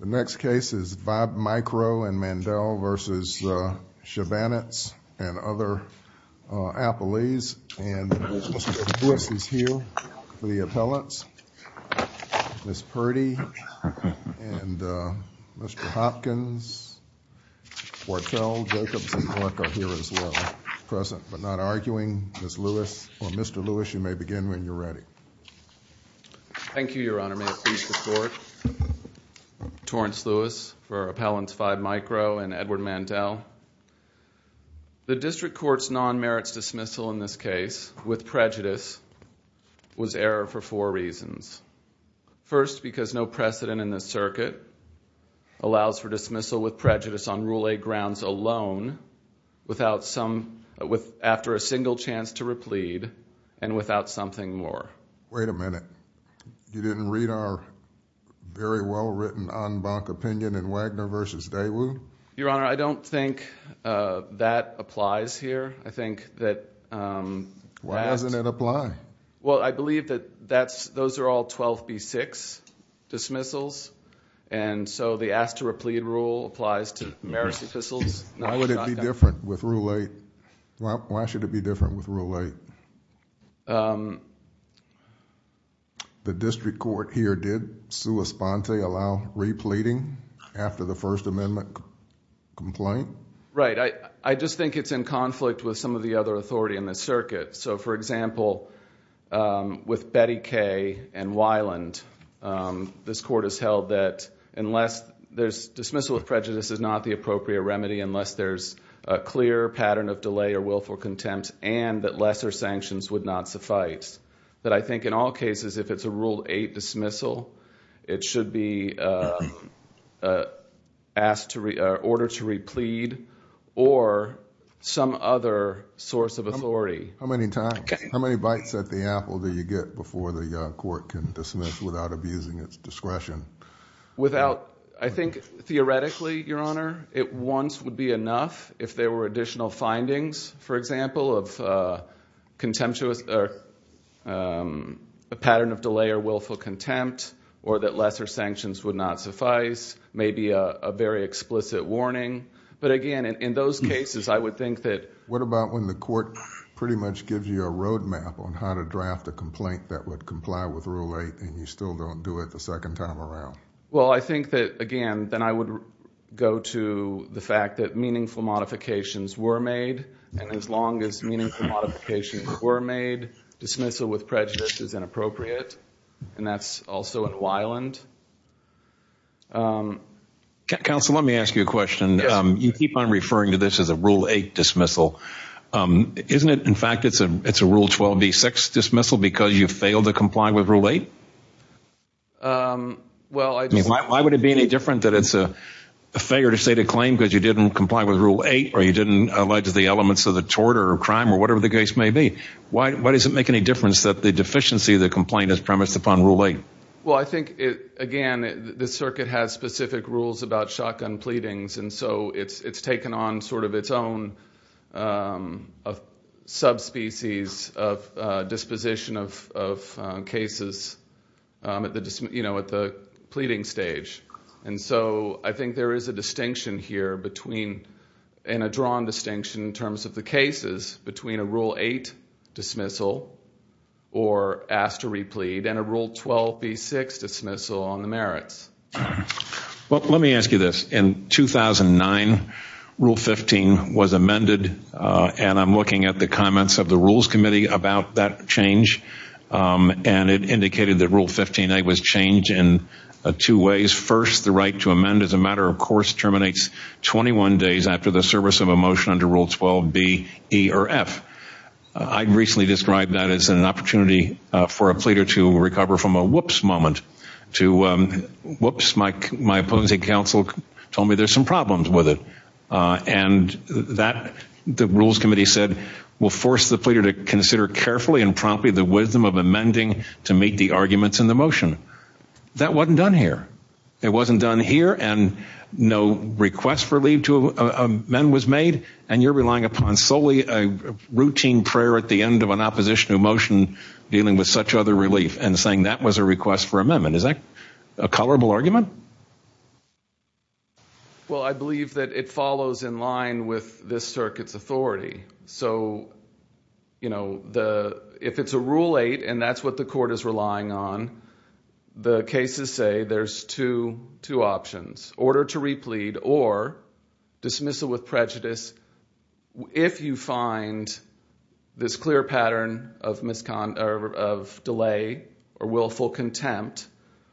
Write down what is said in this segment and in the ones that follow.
The next case is Vibe Micro and Mandel v. Shabanets and other appellees, and Mr. Lewis is here for the appellants. Ms. Purdy and Mr. Hopkins, Quartel, Jacobs, and Clark are here as well, present, but not present. Mr. Lewis, you may begin when you're ready. Thank you, Your Honor. May it please the Court. Torrence Lewis for Appellants Vibe Micro and Edward Mandel. The District Court's non-merits dismissal in this case, with prejudice, was error for four reasons. First, because no precedent in this circuit allows for dismissal with prejudice on Rule A grounds alone, after a single chance to replead, and without something more. Wait a minute. You didn't read our very well-written en banc opinion in Wagner v. Daewoo? Your Honor, I don't think that applies here. I think that— Why doesn't it apply? Well, I believe that those are all 12B6 dismissals, and so the ask-to-replead rule applies to 12B6 dismissals. Why would it be different with Rule A? Why should it be different with Rule A? The District Court here did, sua sponte, allow repleading after the First Amendment complaint? Right. I just think it's in conflict with some of the other authority in this circuit. For example, with Betty Kay and Weiland, this Court has held that, unless there's dismissal with prejudice is not the appropriate remedy, unless there's a clear pattern of delay or willful contempt, and that lesser sanctions would not suffice. That I think in all cases, if it's a Rule 8 dismissal, it should be asked to—ordered to replead, or some other source of authority. How many times? How many bites at the apple do you get before the Court can dismiss without abusing its discretion? Without—I think, theoretically, Your Honor, it once would be enough if there were additional findings, for example, of a pattern of delay or willful contempt, or that lesser sanctions would not suffice, maybe a very explicit warning, but again, in those cases, I would think that— What about when the Court pretty much gives you a roadmap on how to draft a complaint that would comply with Rule 8, and you still don't do it the second time around? Well, I think that, again, then I would go to the fact that meaningful modifications were made, and as long as meaningful modifications were made, dismissal with prejudice is inappropriate, and that's also in Weiland. Counsel, let me ask you a question. You keep on referring to this as a Rule 8 dismissal. Isn't it, in fact, it's a Rule 12b6 dismissal because you failed to comply with Rule 8? Why would it be any different that it's a failure to state a claim because you didn't comply with Rule 8, or you didn't allege the elements of the tort, or crime, or whatever the case may be? Why does it make any difference that the deficiency of the complaint is premised upon Rule 8? Well, I think, again, the Circuit has specific rules about shotgun pleadings, and so it's taken on sort of its own subspecies of disposition of cases at the pleading stage. And so I think there is a distinction here between, and a drawn distinction in terms of the cases, between a Rule 8 dismissal, or asked to replead, and a Rule 12b6 dismissal on the merits. Well, let me ask you this. In 2009, Rule 15 was amended, and I'm looking at the comments of the Rules Committee about that change, and it indicated that Rule 15a was changed in two ways. First, the right to amend as a matter of course terminates 21 days after the service of a motion under Rule 12b, e, or f. I recently described that as an opportunity for a pleader to recover from a whoops moment to, whoops, my opposing counsel told me there's some problems with it. And that, the Rules Committee said, will force the pleader to consider carefully and promptly the wisdom of amending to meet the arguments in the motion. That wasn't done here. It wasn't done here, and no request for leave to amend was made, and you're relying upon solely a routine prayer at the end of an opposition to a motion dealing with such other relief, and saying that was a request for amendment. Is that a colorable argument? Well, I believe that it follows in line with this circuit's authority. So, you know, if it's a Rule 8, and that's what the court is relying on, the cases say there's two options, order to replead or dismissal with prejudice if you find this clear pattern of delay or willful contempt,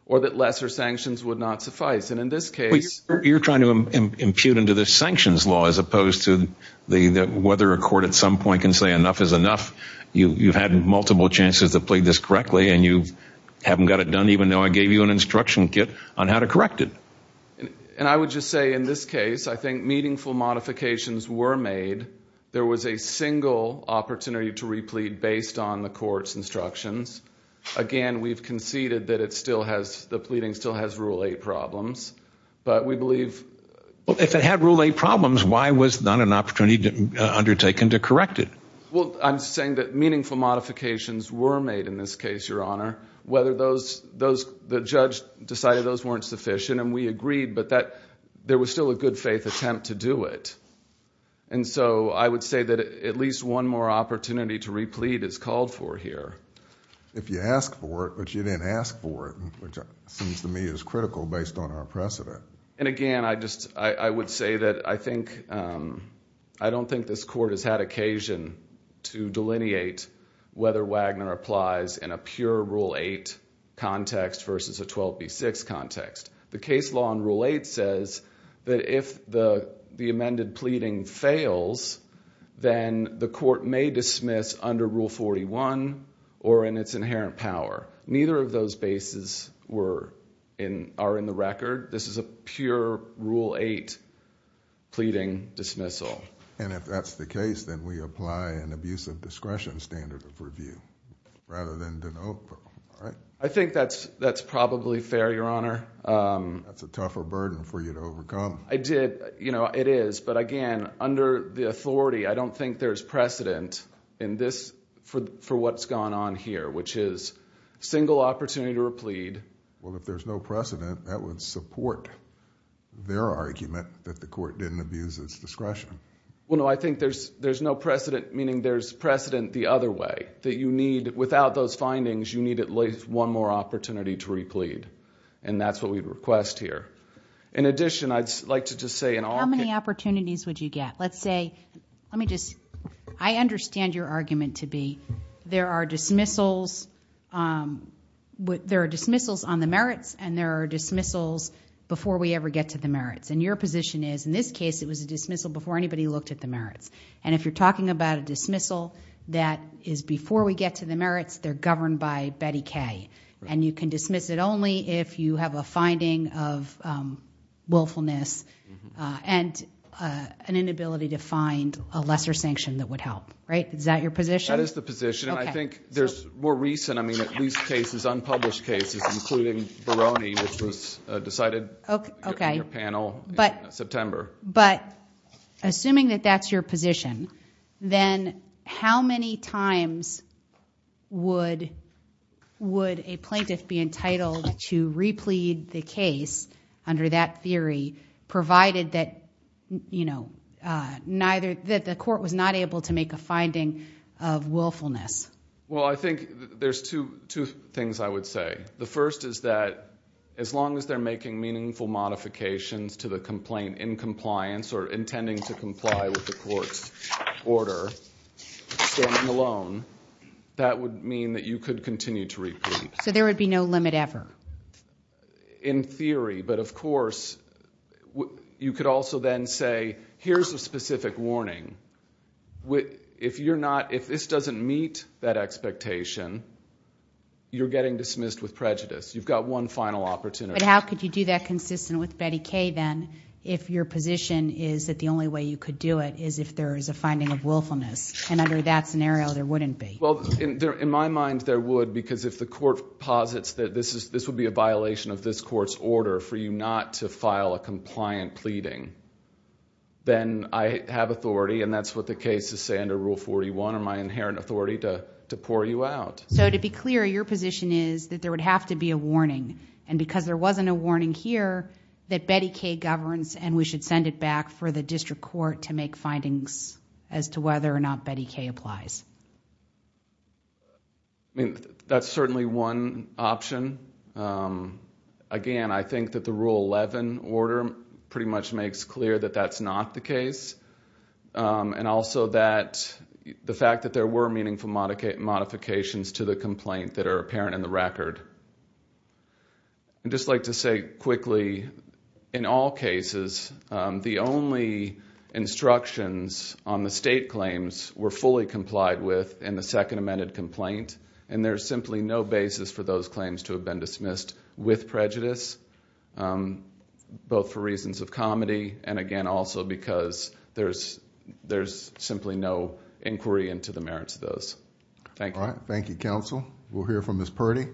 or that lesser sanctions would not suffice. And in this case... You're trying to impute into the sanctions law as opposed to whether a court at some point can say enough is enough. You've had multiple chances to plead this correctly, and you haven't got it done even though I gave you an instruction kit on how to correct it. And I would just say in this case, I think meaningful modifications were made. There was a single opportunity to replead based on the court's instructions. Again, we've conceded that the pleading still has Rule 8 problems, but we believe... Well, if it had Rule 8 problems, why was not an opportunity undertaken to correct it? Well, I'm saying that meaningful modifications were made in this case, Your Honor. Whether those... The judge decided those weren't sufficient, and we agreed, but there was still a good faith attempt to do it. And so, I would say that at least one more opportunity to replead is called for here. If you ask for it, but you didn't ask for it, which seems to me is critical based on our precedent. And again, I would say that I don't think this court has had occasion to delineate whether Wagner applies in a pure Rule 8 context versus a 12B6 context. The case law in Rule 8 says that if the amended pleading fails, then the court may dismiss under Rule 41 or in its inherent power. Neither of those bases are in the record. This is a pure Rule 8 pleading dismissal. And if that's the case, then we apply an abuse of discretion standard of review rather than denote, right? I think that's probably fair, Your Honor. That's a tougher burden for you to overcome. I did... You know, it is. But again, under the authority, I don't think there's precedent in this for what's gone on here, which is single opportunity to replead. Well, if there's no precedent, that would support their argument that the court didn't abuse its discretion. Well, no, I think there's no precedent, meaning there's precedent the other way, that you need at least one more opportunity to replead. And that's what we'd request here. In addition, I'd like to just say in all... How many opportunities would you get? Let's say... Let me just... I understand your argument to be there are dismissals on the merits and there are dismissals before we ever get to the merits. And your position is, in this case, it was a dismissal before anybody looked at the merits. And if you're talking about a dismissal that is before we get to the merits, they're governed by Betty Kay. And you can dismiss it only if you have a finding of willfulness and an inability to find a lesser sanction that would help. Right? Is that your position? That is the position. And I think there's more recent... I mean, at least cases, unpublished cases, including Baroni, which was decided in your panel in September. But assuming that that's your position, then how many times would a plaintiff be entitled to replead the case under that theory, provided that the court was not able to make a finding of willfulness? Well, I think there's two things I would say. The first is that as long as they're making meaningful modifications to the complaint in compliance or intending to comply with the court's order, standing alone, that would mean that you could continue to repeat. So there would be no limit ever? In theory. But of course, you could also then say, here's a specific warning. If this doesn't meet that expectation, you're getting dismissed with prejudice. You've got one final opportunity. But how could you do that consistent with Betty Kay, then, if your position is that the only way you could do it is if there is a finding of willfulness? And under that scenario, there wouldn't be. Well, in my mind, there would, because if the court posits that this would be a violation of this court's order for you not to file a compliant pleading, then I have authority, and that's what the case is saying, under Rule 41, or my inherent authority to pour you out. So to be clear, your position is that there would have to be a warning. And because there wasn't a warning here, that Betty Kay governs, and we should send it back for the district court to make findings as to whether or not Betty Kay applies. I mean, that's certainly one option. Again, I think that the Rule 11 order pretty much makes clear that that's not the case. And also that the fact that there were meaningful modifications to the complaint that are apparent in the record. I'd just like to say quickly, in all cases, the only instructions on the state claims were fully complied with in the second amended complaint. And there's simply no basis for those claims to have been dismissed with prejudice, both for reasons of comedy, and again, also because there's simply no inquiry into the merits of those. Thank you. All right. Thank you, counsel. We'll hear from Ms. Purdy.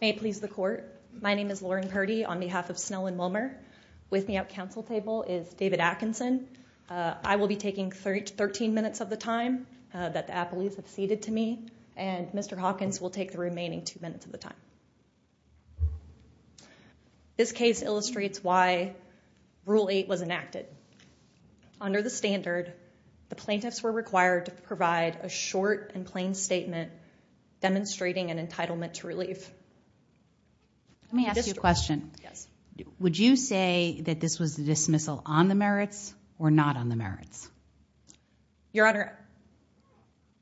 May it please the court. My name is Lauren Purdy on behalf of Snow and Wilmer. With me at counsel table is David Atkinson. I will be taking 13 minutes of the time that the appellees have ceded to me, and Mr. Hawkins will take the remaining two minutes of the time. This case illustrates why Rule 8 was enacted. Under the standard, the plaintiffs were required to provide a short and plain statement demonstrating an entitlement to relief. Let me ask you a question. Would you say that this was a dismissal on the merits or not on the merits? Your Honor,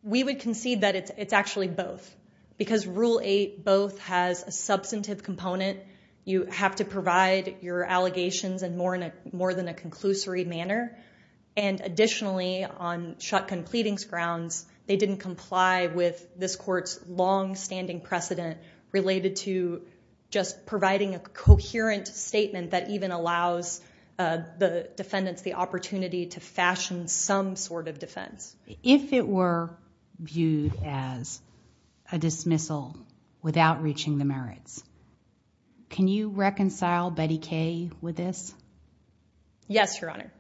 we would concede that it's actually both. Because Rule 8 both has a substantive component. You have to provide your allegations in more than a conclusory manner. And additionally, on shotgun pleadings grounds, they didn't comply with this court's longstanding precedent related to just providing a coherent statement that even allows the defendants the opportunity to fashion some sort of defense. If it were viewed as a dismissal without reaching the merits, can you reconcile Betty Kay with this? Yes, Your Honor.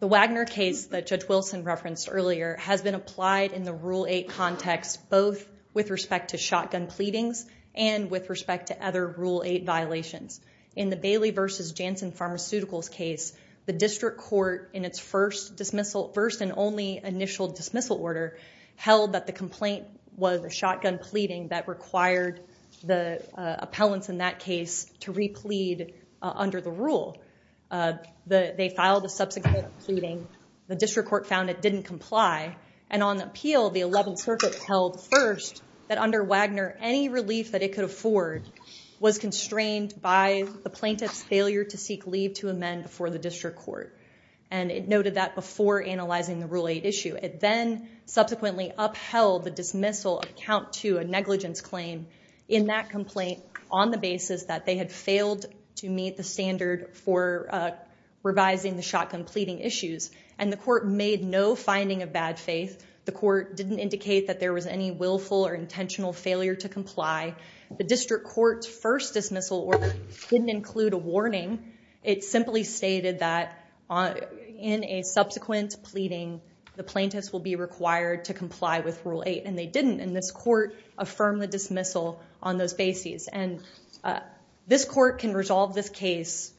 The Wagner case that Judge Wilson referenced earlier has been applied in the Rule 8 context both with respect to shotgun pleadings and with respect to other Rule 8 violations. In the Bailey v. Jansen Pharmaceuticals case, the district court in its first and only initial dismissal order held that the complaint was a shotgun pleading that required the appellants in that case to replead under the rule. They filed a subsequent pleading. The district court found it didn't comply. And on appeal, the 11th Circuit held first that under Wagner, any relief that it could plaintiff's failure to seek leave to amend before the district court. And it noted that before analyzing the Rule 8 issue. It then subsequently upheld the dismissal account to a negligence claim in that complaint on the basis that they had failed to meet the standard for revising the shotgun pleading issues. And the court made no finding of bad faith. The court didn't indicate that there was any willful or intentional failure to comply. The district court's first dismissal order didn't include a warning. It simply stated that in a subsequent pleading, the plaintiffs will be required to comply with Rule 8. And they didn't. And this court affirmed the dismissal on those bases. And this court can resolve this case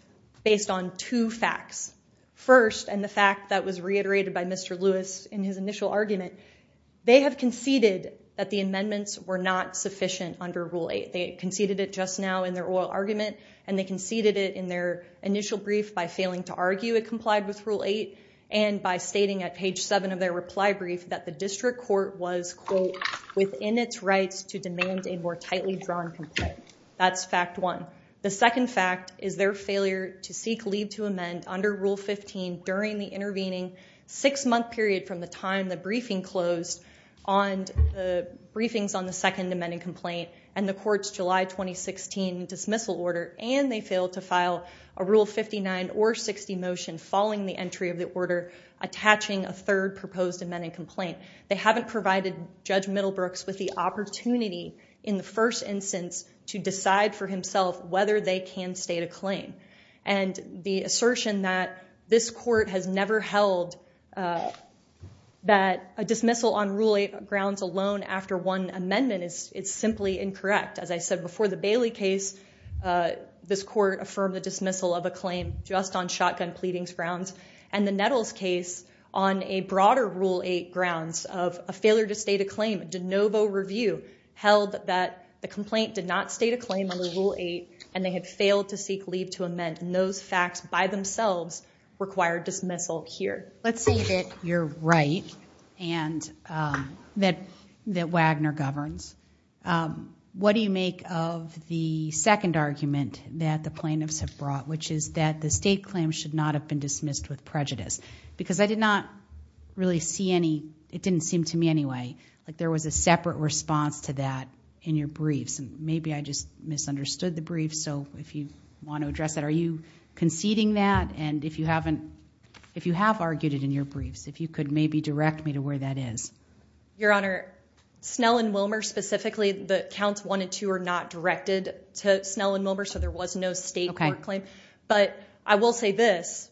based on two facts. First, and the fact that was reiterated by Mr. Lewis in his initial argument, they have conceded that the amendments were not sufficient under Rule 8. They conceded it just now in their oral argument. And they conceded it in their initial brief by failing to argue it complied with Rule 8. And by stating at page 7 of their reply brief that the district court was, quote, within its rights to demand a more tightly drawn complaint. That's fact one. The second fact is their failure to seek leave to amend under Rule 15 during the intervening six-month period from the time the briefings on the second amending complaint and the court's July 2016 dismissal order. And they failed to file a Rule 59 or 60 motion following the entry of the order attaching a third proposed amending complaint. They haven't provided Judge Middlebrooks with the opportunity in the first instance to decide for himself whether they can state a claim. And the assertion that this court has never held that a dismissal on Rule 8 grounds alone after one amendment is simply incorrect. As I said before, the Bailey case, this court affirmed the dismissal of a claim just on shotgun pleadings grounds. And the Nettles case on a broader Rule 8 grounds of a failure to state a claim, a de novo review, held that the complaint did not state a claim under Rule 8, and they had failed to seek leave to amend. And those facts by themselves require dismissal here. Let's say that you're right and that Wagner governs. What do you make of the second argument that the plaintiffs have brought, which is that the state claim should not have been dismissed with prejudice? Because I did not really see any, it didn't seem to me anyway, like there was a separate response to that in your briefs. Maybe I just misunderstood the brief. So if you want to address that, are you conceding that? And if you haven't, if you have argued it in your briefs, if you could maybe direct me to where that is. Your Honor, Snell and Wilmer specifically, the counts one and two are not directed to Snell and Wilmer, so there was no state court claim. But I will say this,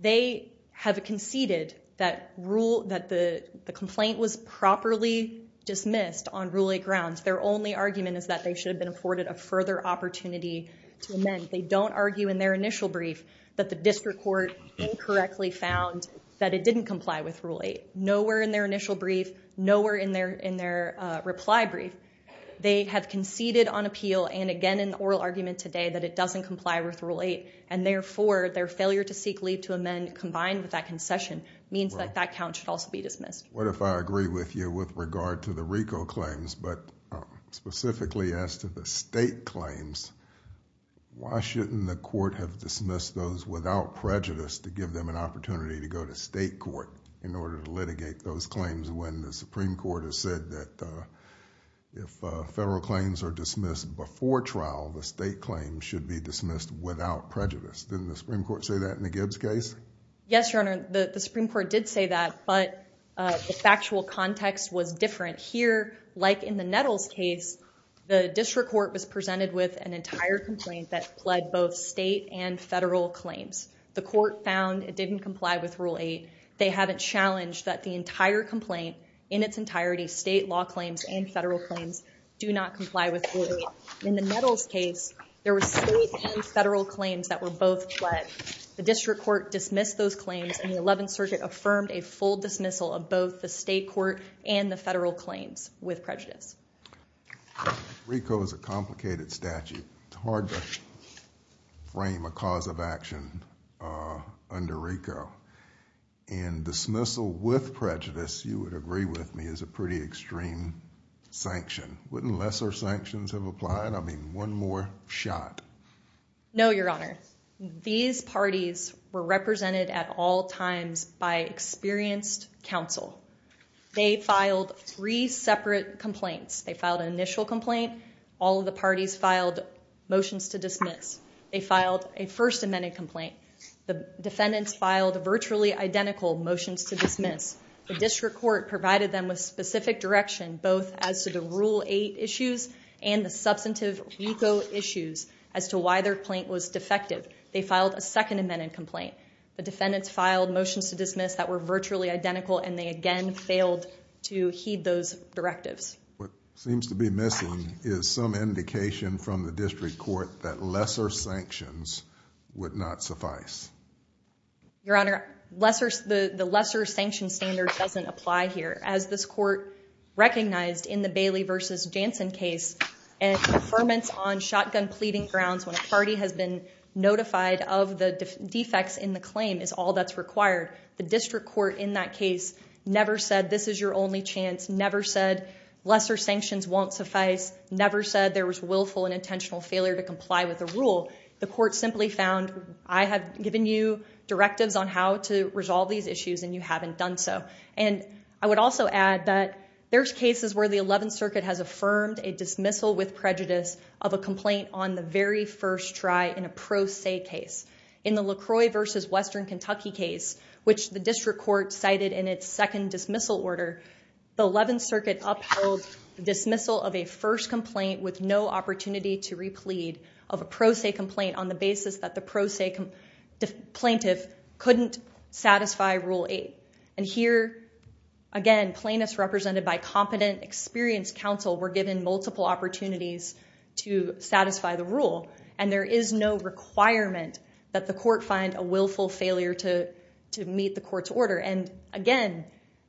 they have conceded that the complaint was properly dismissed on Rule 8 grounds. Their only argument is that they should have been afforded a further opportunity to amend. They don't argue in their initial brief that the district court incorrectly found that it didn't comply with Rule 8. Nowhere in their initial brief, nowhere in their reply brief. They have conceded on appeal and again in the oral argument today that it doesn't comply with Rule 8 and therefore their failure to seek leave to amend combined with that concession means that that count should also be dismissed. What if I agree with you with regard to the RICO claims, but specifically as to the state claims, why shouldn't the court have dismissed those without prejudice to give them an opportunity to go to state court in order to litigate those claims when the Supreme Court has said that if federal claims are dismissed before trial, the state claims should be dismissed without prejudice. Didn't the Supreme Court say that in the Gibbs case? Yes, Your Honor. The Supreme Court did say that, but the factual context was different. Here, like in the Nettles case, the district court was presented with an entire complaint that pled both state and federal claims. The court found it didn't comply with Rule 8. They haven't challenged that the entire complaint in its entirety, state law claims and federal claims, do not comply with Rule 8. In the Nettles case, there were state and federal claims that were both pled. The district court dismissed those claims, and the 11th Circuit affirmed a full dismissal of both the state court and the federal claims with prejudice. RICO is a complicated statute. It's hard to frame a cause of action under RICO, and dismissal with prejudice, you would agree with me, is a pretty extreme sanction. Wouldn't lesser sanctions have applied? I mean, one more shot. No, Your Honor. These parties were represented at all times by experienced counsel. They filed three separate complaints. They filed an initial complaint. All of the parties filed motions to dismiss. They filed a First Amendment complaint. The defendants filed virtually identical motions to dismiss. The district court provided them with specific direction, both as to the Rule 8 issues and the substantive RICO issues, as to why their complaint was defective. They filed a Second Amendment complaint. The defendants filed motions to dismiss that were virtually identical, and they again failed to heed those directives. What seems to be missing is some indication from the district court that lesser sanctions would not suffice. Your Honor, the lesser sanction standard doesn't apply here. As this court recognized in the Bailey v. Jansen case, an affirmance on shotgun pleading grounds when a party has been notified of the defects in the claim is all that's required. The district court in that case never said, this is your only chance. Never said lesser sanctions won't suffice. Never said there was willful and intentional failure to comply with the rule. The court simply found, I have given you directives on how to resolve these issues, and you haven't done so. I would also add that there's cases where the Eleventh Circuit has affirmed a dismissal with prejudice of a complaint on the very first try in a pro se case. In the La Croix v. Western Kentucky case, which the district court cited in its second dismissal order, the Eleventh Circuit upheld dismissal of a first complaint with no opportunity to replead of a pro se complaint on the basis that the pro se plaintiff couldn't satisfy Rule 8. And here, again, plaintiffs represented by competent, experienced counsel were given multiple opportunities to satisfy the rule. And there is no requirement that the court find a willful failure to meet the court's order. And again,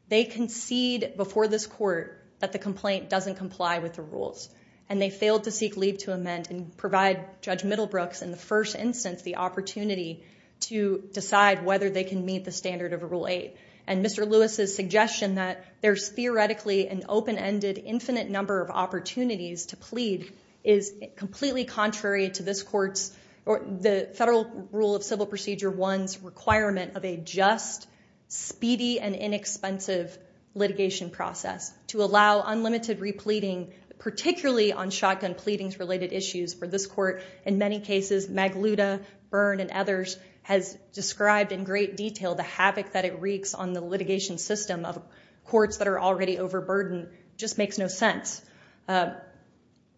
they concede before this court that the complaint doesn't comply with the rules. And they failed to seek leave to amend and provide Judge Middlebrooks in the first instance the opportunity to decide whether they can meet the standard of Rule 8. And Mr. Lewis's suggestion that there's theoretically an open-ended, infinite number of opportunities to plead is completely contrary to this court's, or the Federal Rule of Civil Procedure 1's requirement of a just, speedy, and inexpensive litigation process to allow unlimited repleading, particularly on shotgun pleadings-related issues. For this court, in many cases, Magluta, Byrne, and others has described in great detail the havoc that it wreaks on the litigation system of courts that are already overburdened. Just makes no sense.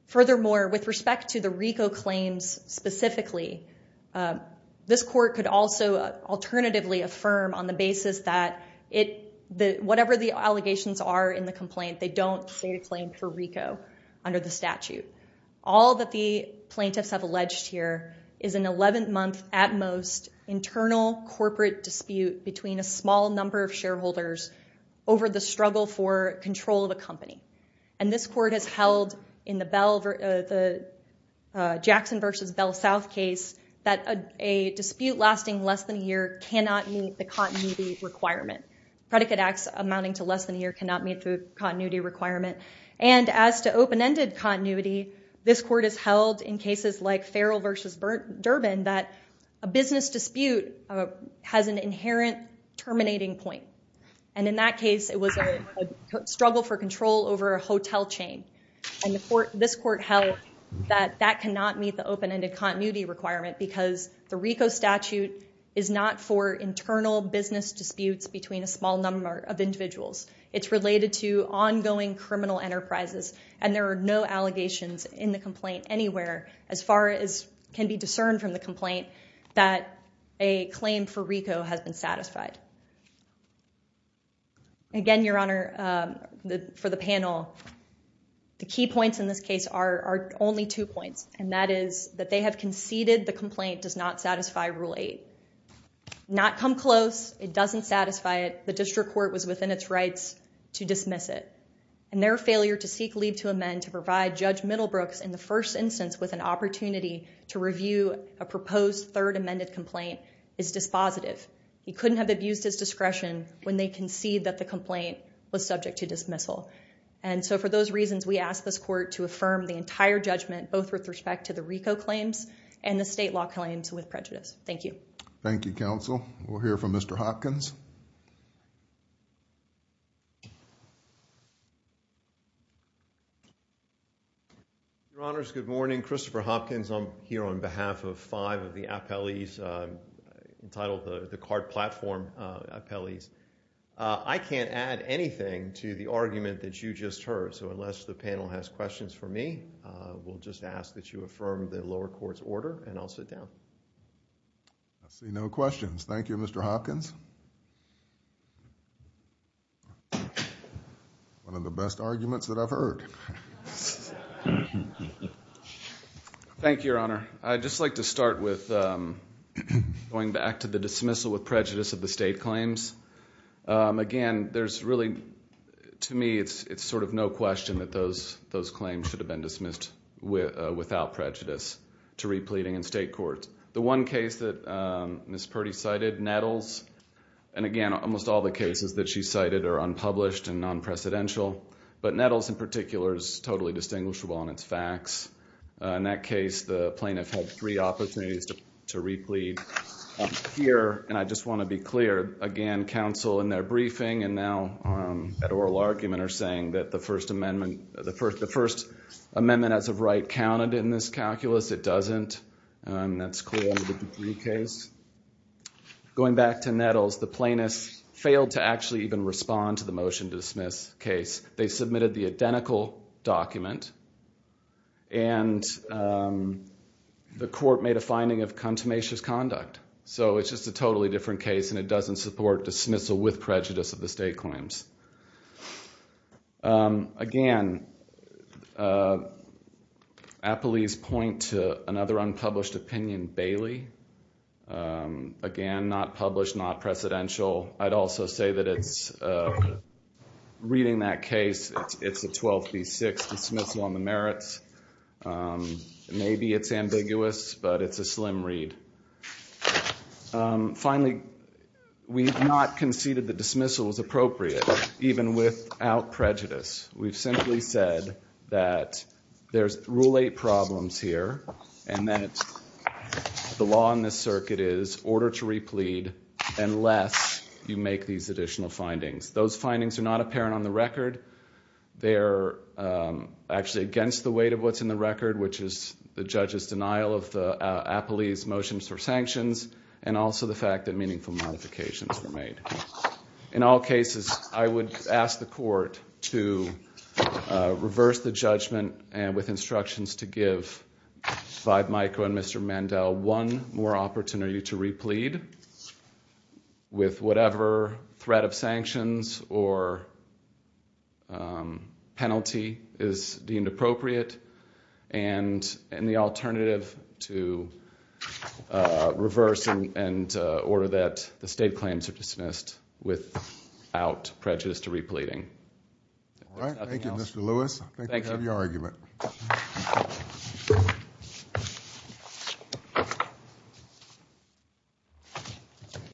Furthermore, with respect to the RICO claims specifically, this court could also alternatively affirm on the basis that whatever the allegations are in the complaint, they don't state a claim for RICO under the statute. All that the plaintiffs have alleged here is an 11-month, at most, internal corporate dispute between a small number of shareholders over the struggle for control of a company. And this court has held in the Jackson v. Bell South case that a dispute lasting less than a year cannot meet the continuity requirement. Predicate acts amounting to less than a year cannot meet the continuity requirement. And as to open-ended continuity, this court has held in cases like Farrell v. Durbin that a business dispute has an inherent terminating point. And in that case, it was a struggle for control over a hotel chain. And this court held that that cannot meet the open-ended continuity requirement because the RICO statute is not for internal business disputes between a small number of individuals. It's related to ongoing criminal enterprises. And there are no allegations in the complaint anywhere, as far as can be discerned from the complaint, that a claim for RICO has been satisfied. Again, Your Honor, for the panel, the key points in this case are only two points. And that is that they have conceded the complaint does not satisfy Rule 8. Not come close. It doesn't satisfy it. The district court was within its rights to dismiss it. And their failure to seek leave to amend to provide Judge Middlebrooks in the first instance with an opportunity to review a proposed third amended complaint is dispositive. He couldn't have abused his discretion when they conceded that the complaint was subject to dismissal. And so for those reasons, we ask this court to affirm the entire judgment, both with respect to the RICO claims and the state law claims with prejudice. Thank you. Thank you, counsel. We'll hear from Mr. Hopkins. Your Honors, good morning. Christopher Hopkins. I'm here on behalf of five of the appellees entitled the Card Platform appellees. I can't add anything to the argument that you just heard. So unless the panel has questions for me, we'll just ask that you affirm the lower court's order and I'll sit down. I see no questions. Thank you, Mr. Hopkins. One of the best arguments that I've heard. Thank you, Your Honor. I'd just like to start with going back to the dismissal with prejudice of the state claims. Again, there's really, to me, it's sort of no question that those claims should have been dismissed without prejudice to re-pleading in state courts. The one case that Ms. Purdy cited, Nettles, and again, almost all the cases that she cited are unpublished and non-precedential, but Nettles in particular is totally distinguishable on its facts. In that case, the plaintiff had three opportunities to re-plead. Here, and I just want to be clear, again, counsel in their briefing and now at oral argument are saying that the First Amendment as of right counted in this calculus. It doesn't. That's clear in the Dupree case. Going back to Nettles, the plaintiffs failed to actually even respond to the motion to dismiss case. They submitted the identical document and the court made a finding of contumacious conduct. So it's just a totally different case and it doesn't support dismissal with prejudice of the state claims. Again, Appley's point to another unpublished opinion, Bailey, again, not published, not precedential. I'd also say that it's, reading that case, it's a 12B6 dismissal on the merits. Maybe it's ambiguous, but it's a slim read. Finally, we've not conceded that dismissal is appropriate, even without prejudice. We've simply said that there's rule eight problems here and that the law in this circuit is order to re-plead unless you make these additional findings. Those findings are not apparent on the record. They're actually against the weight of what's in the record, which is the judge's denial of Appley's motions for sanctions and also the fact that meaningful modifications were made. In all cases, I would ask the court to reverse the judgment and with instructions to give Five Micro and Mr. Mandel one more opportunity to re-plead with whatever threat of sanctions or penalty is deemed appropriate and the alternative to reverse and order that the state claims are dismissed without prejudice to re-pleading. All right. Thank you, Mr. Lewis. Thank you. Thank you.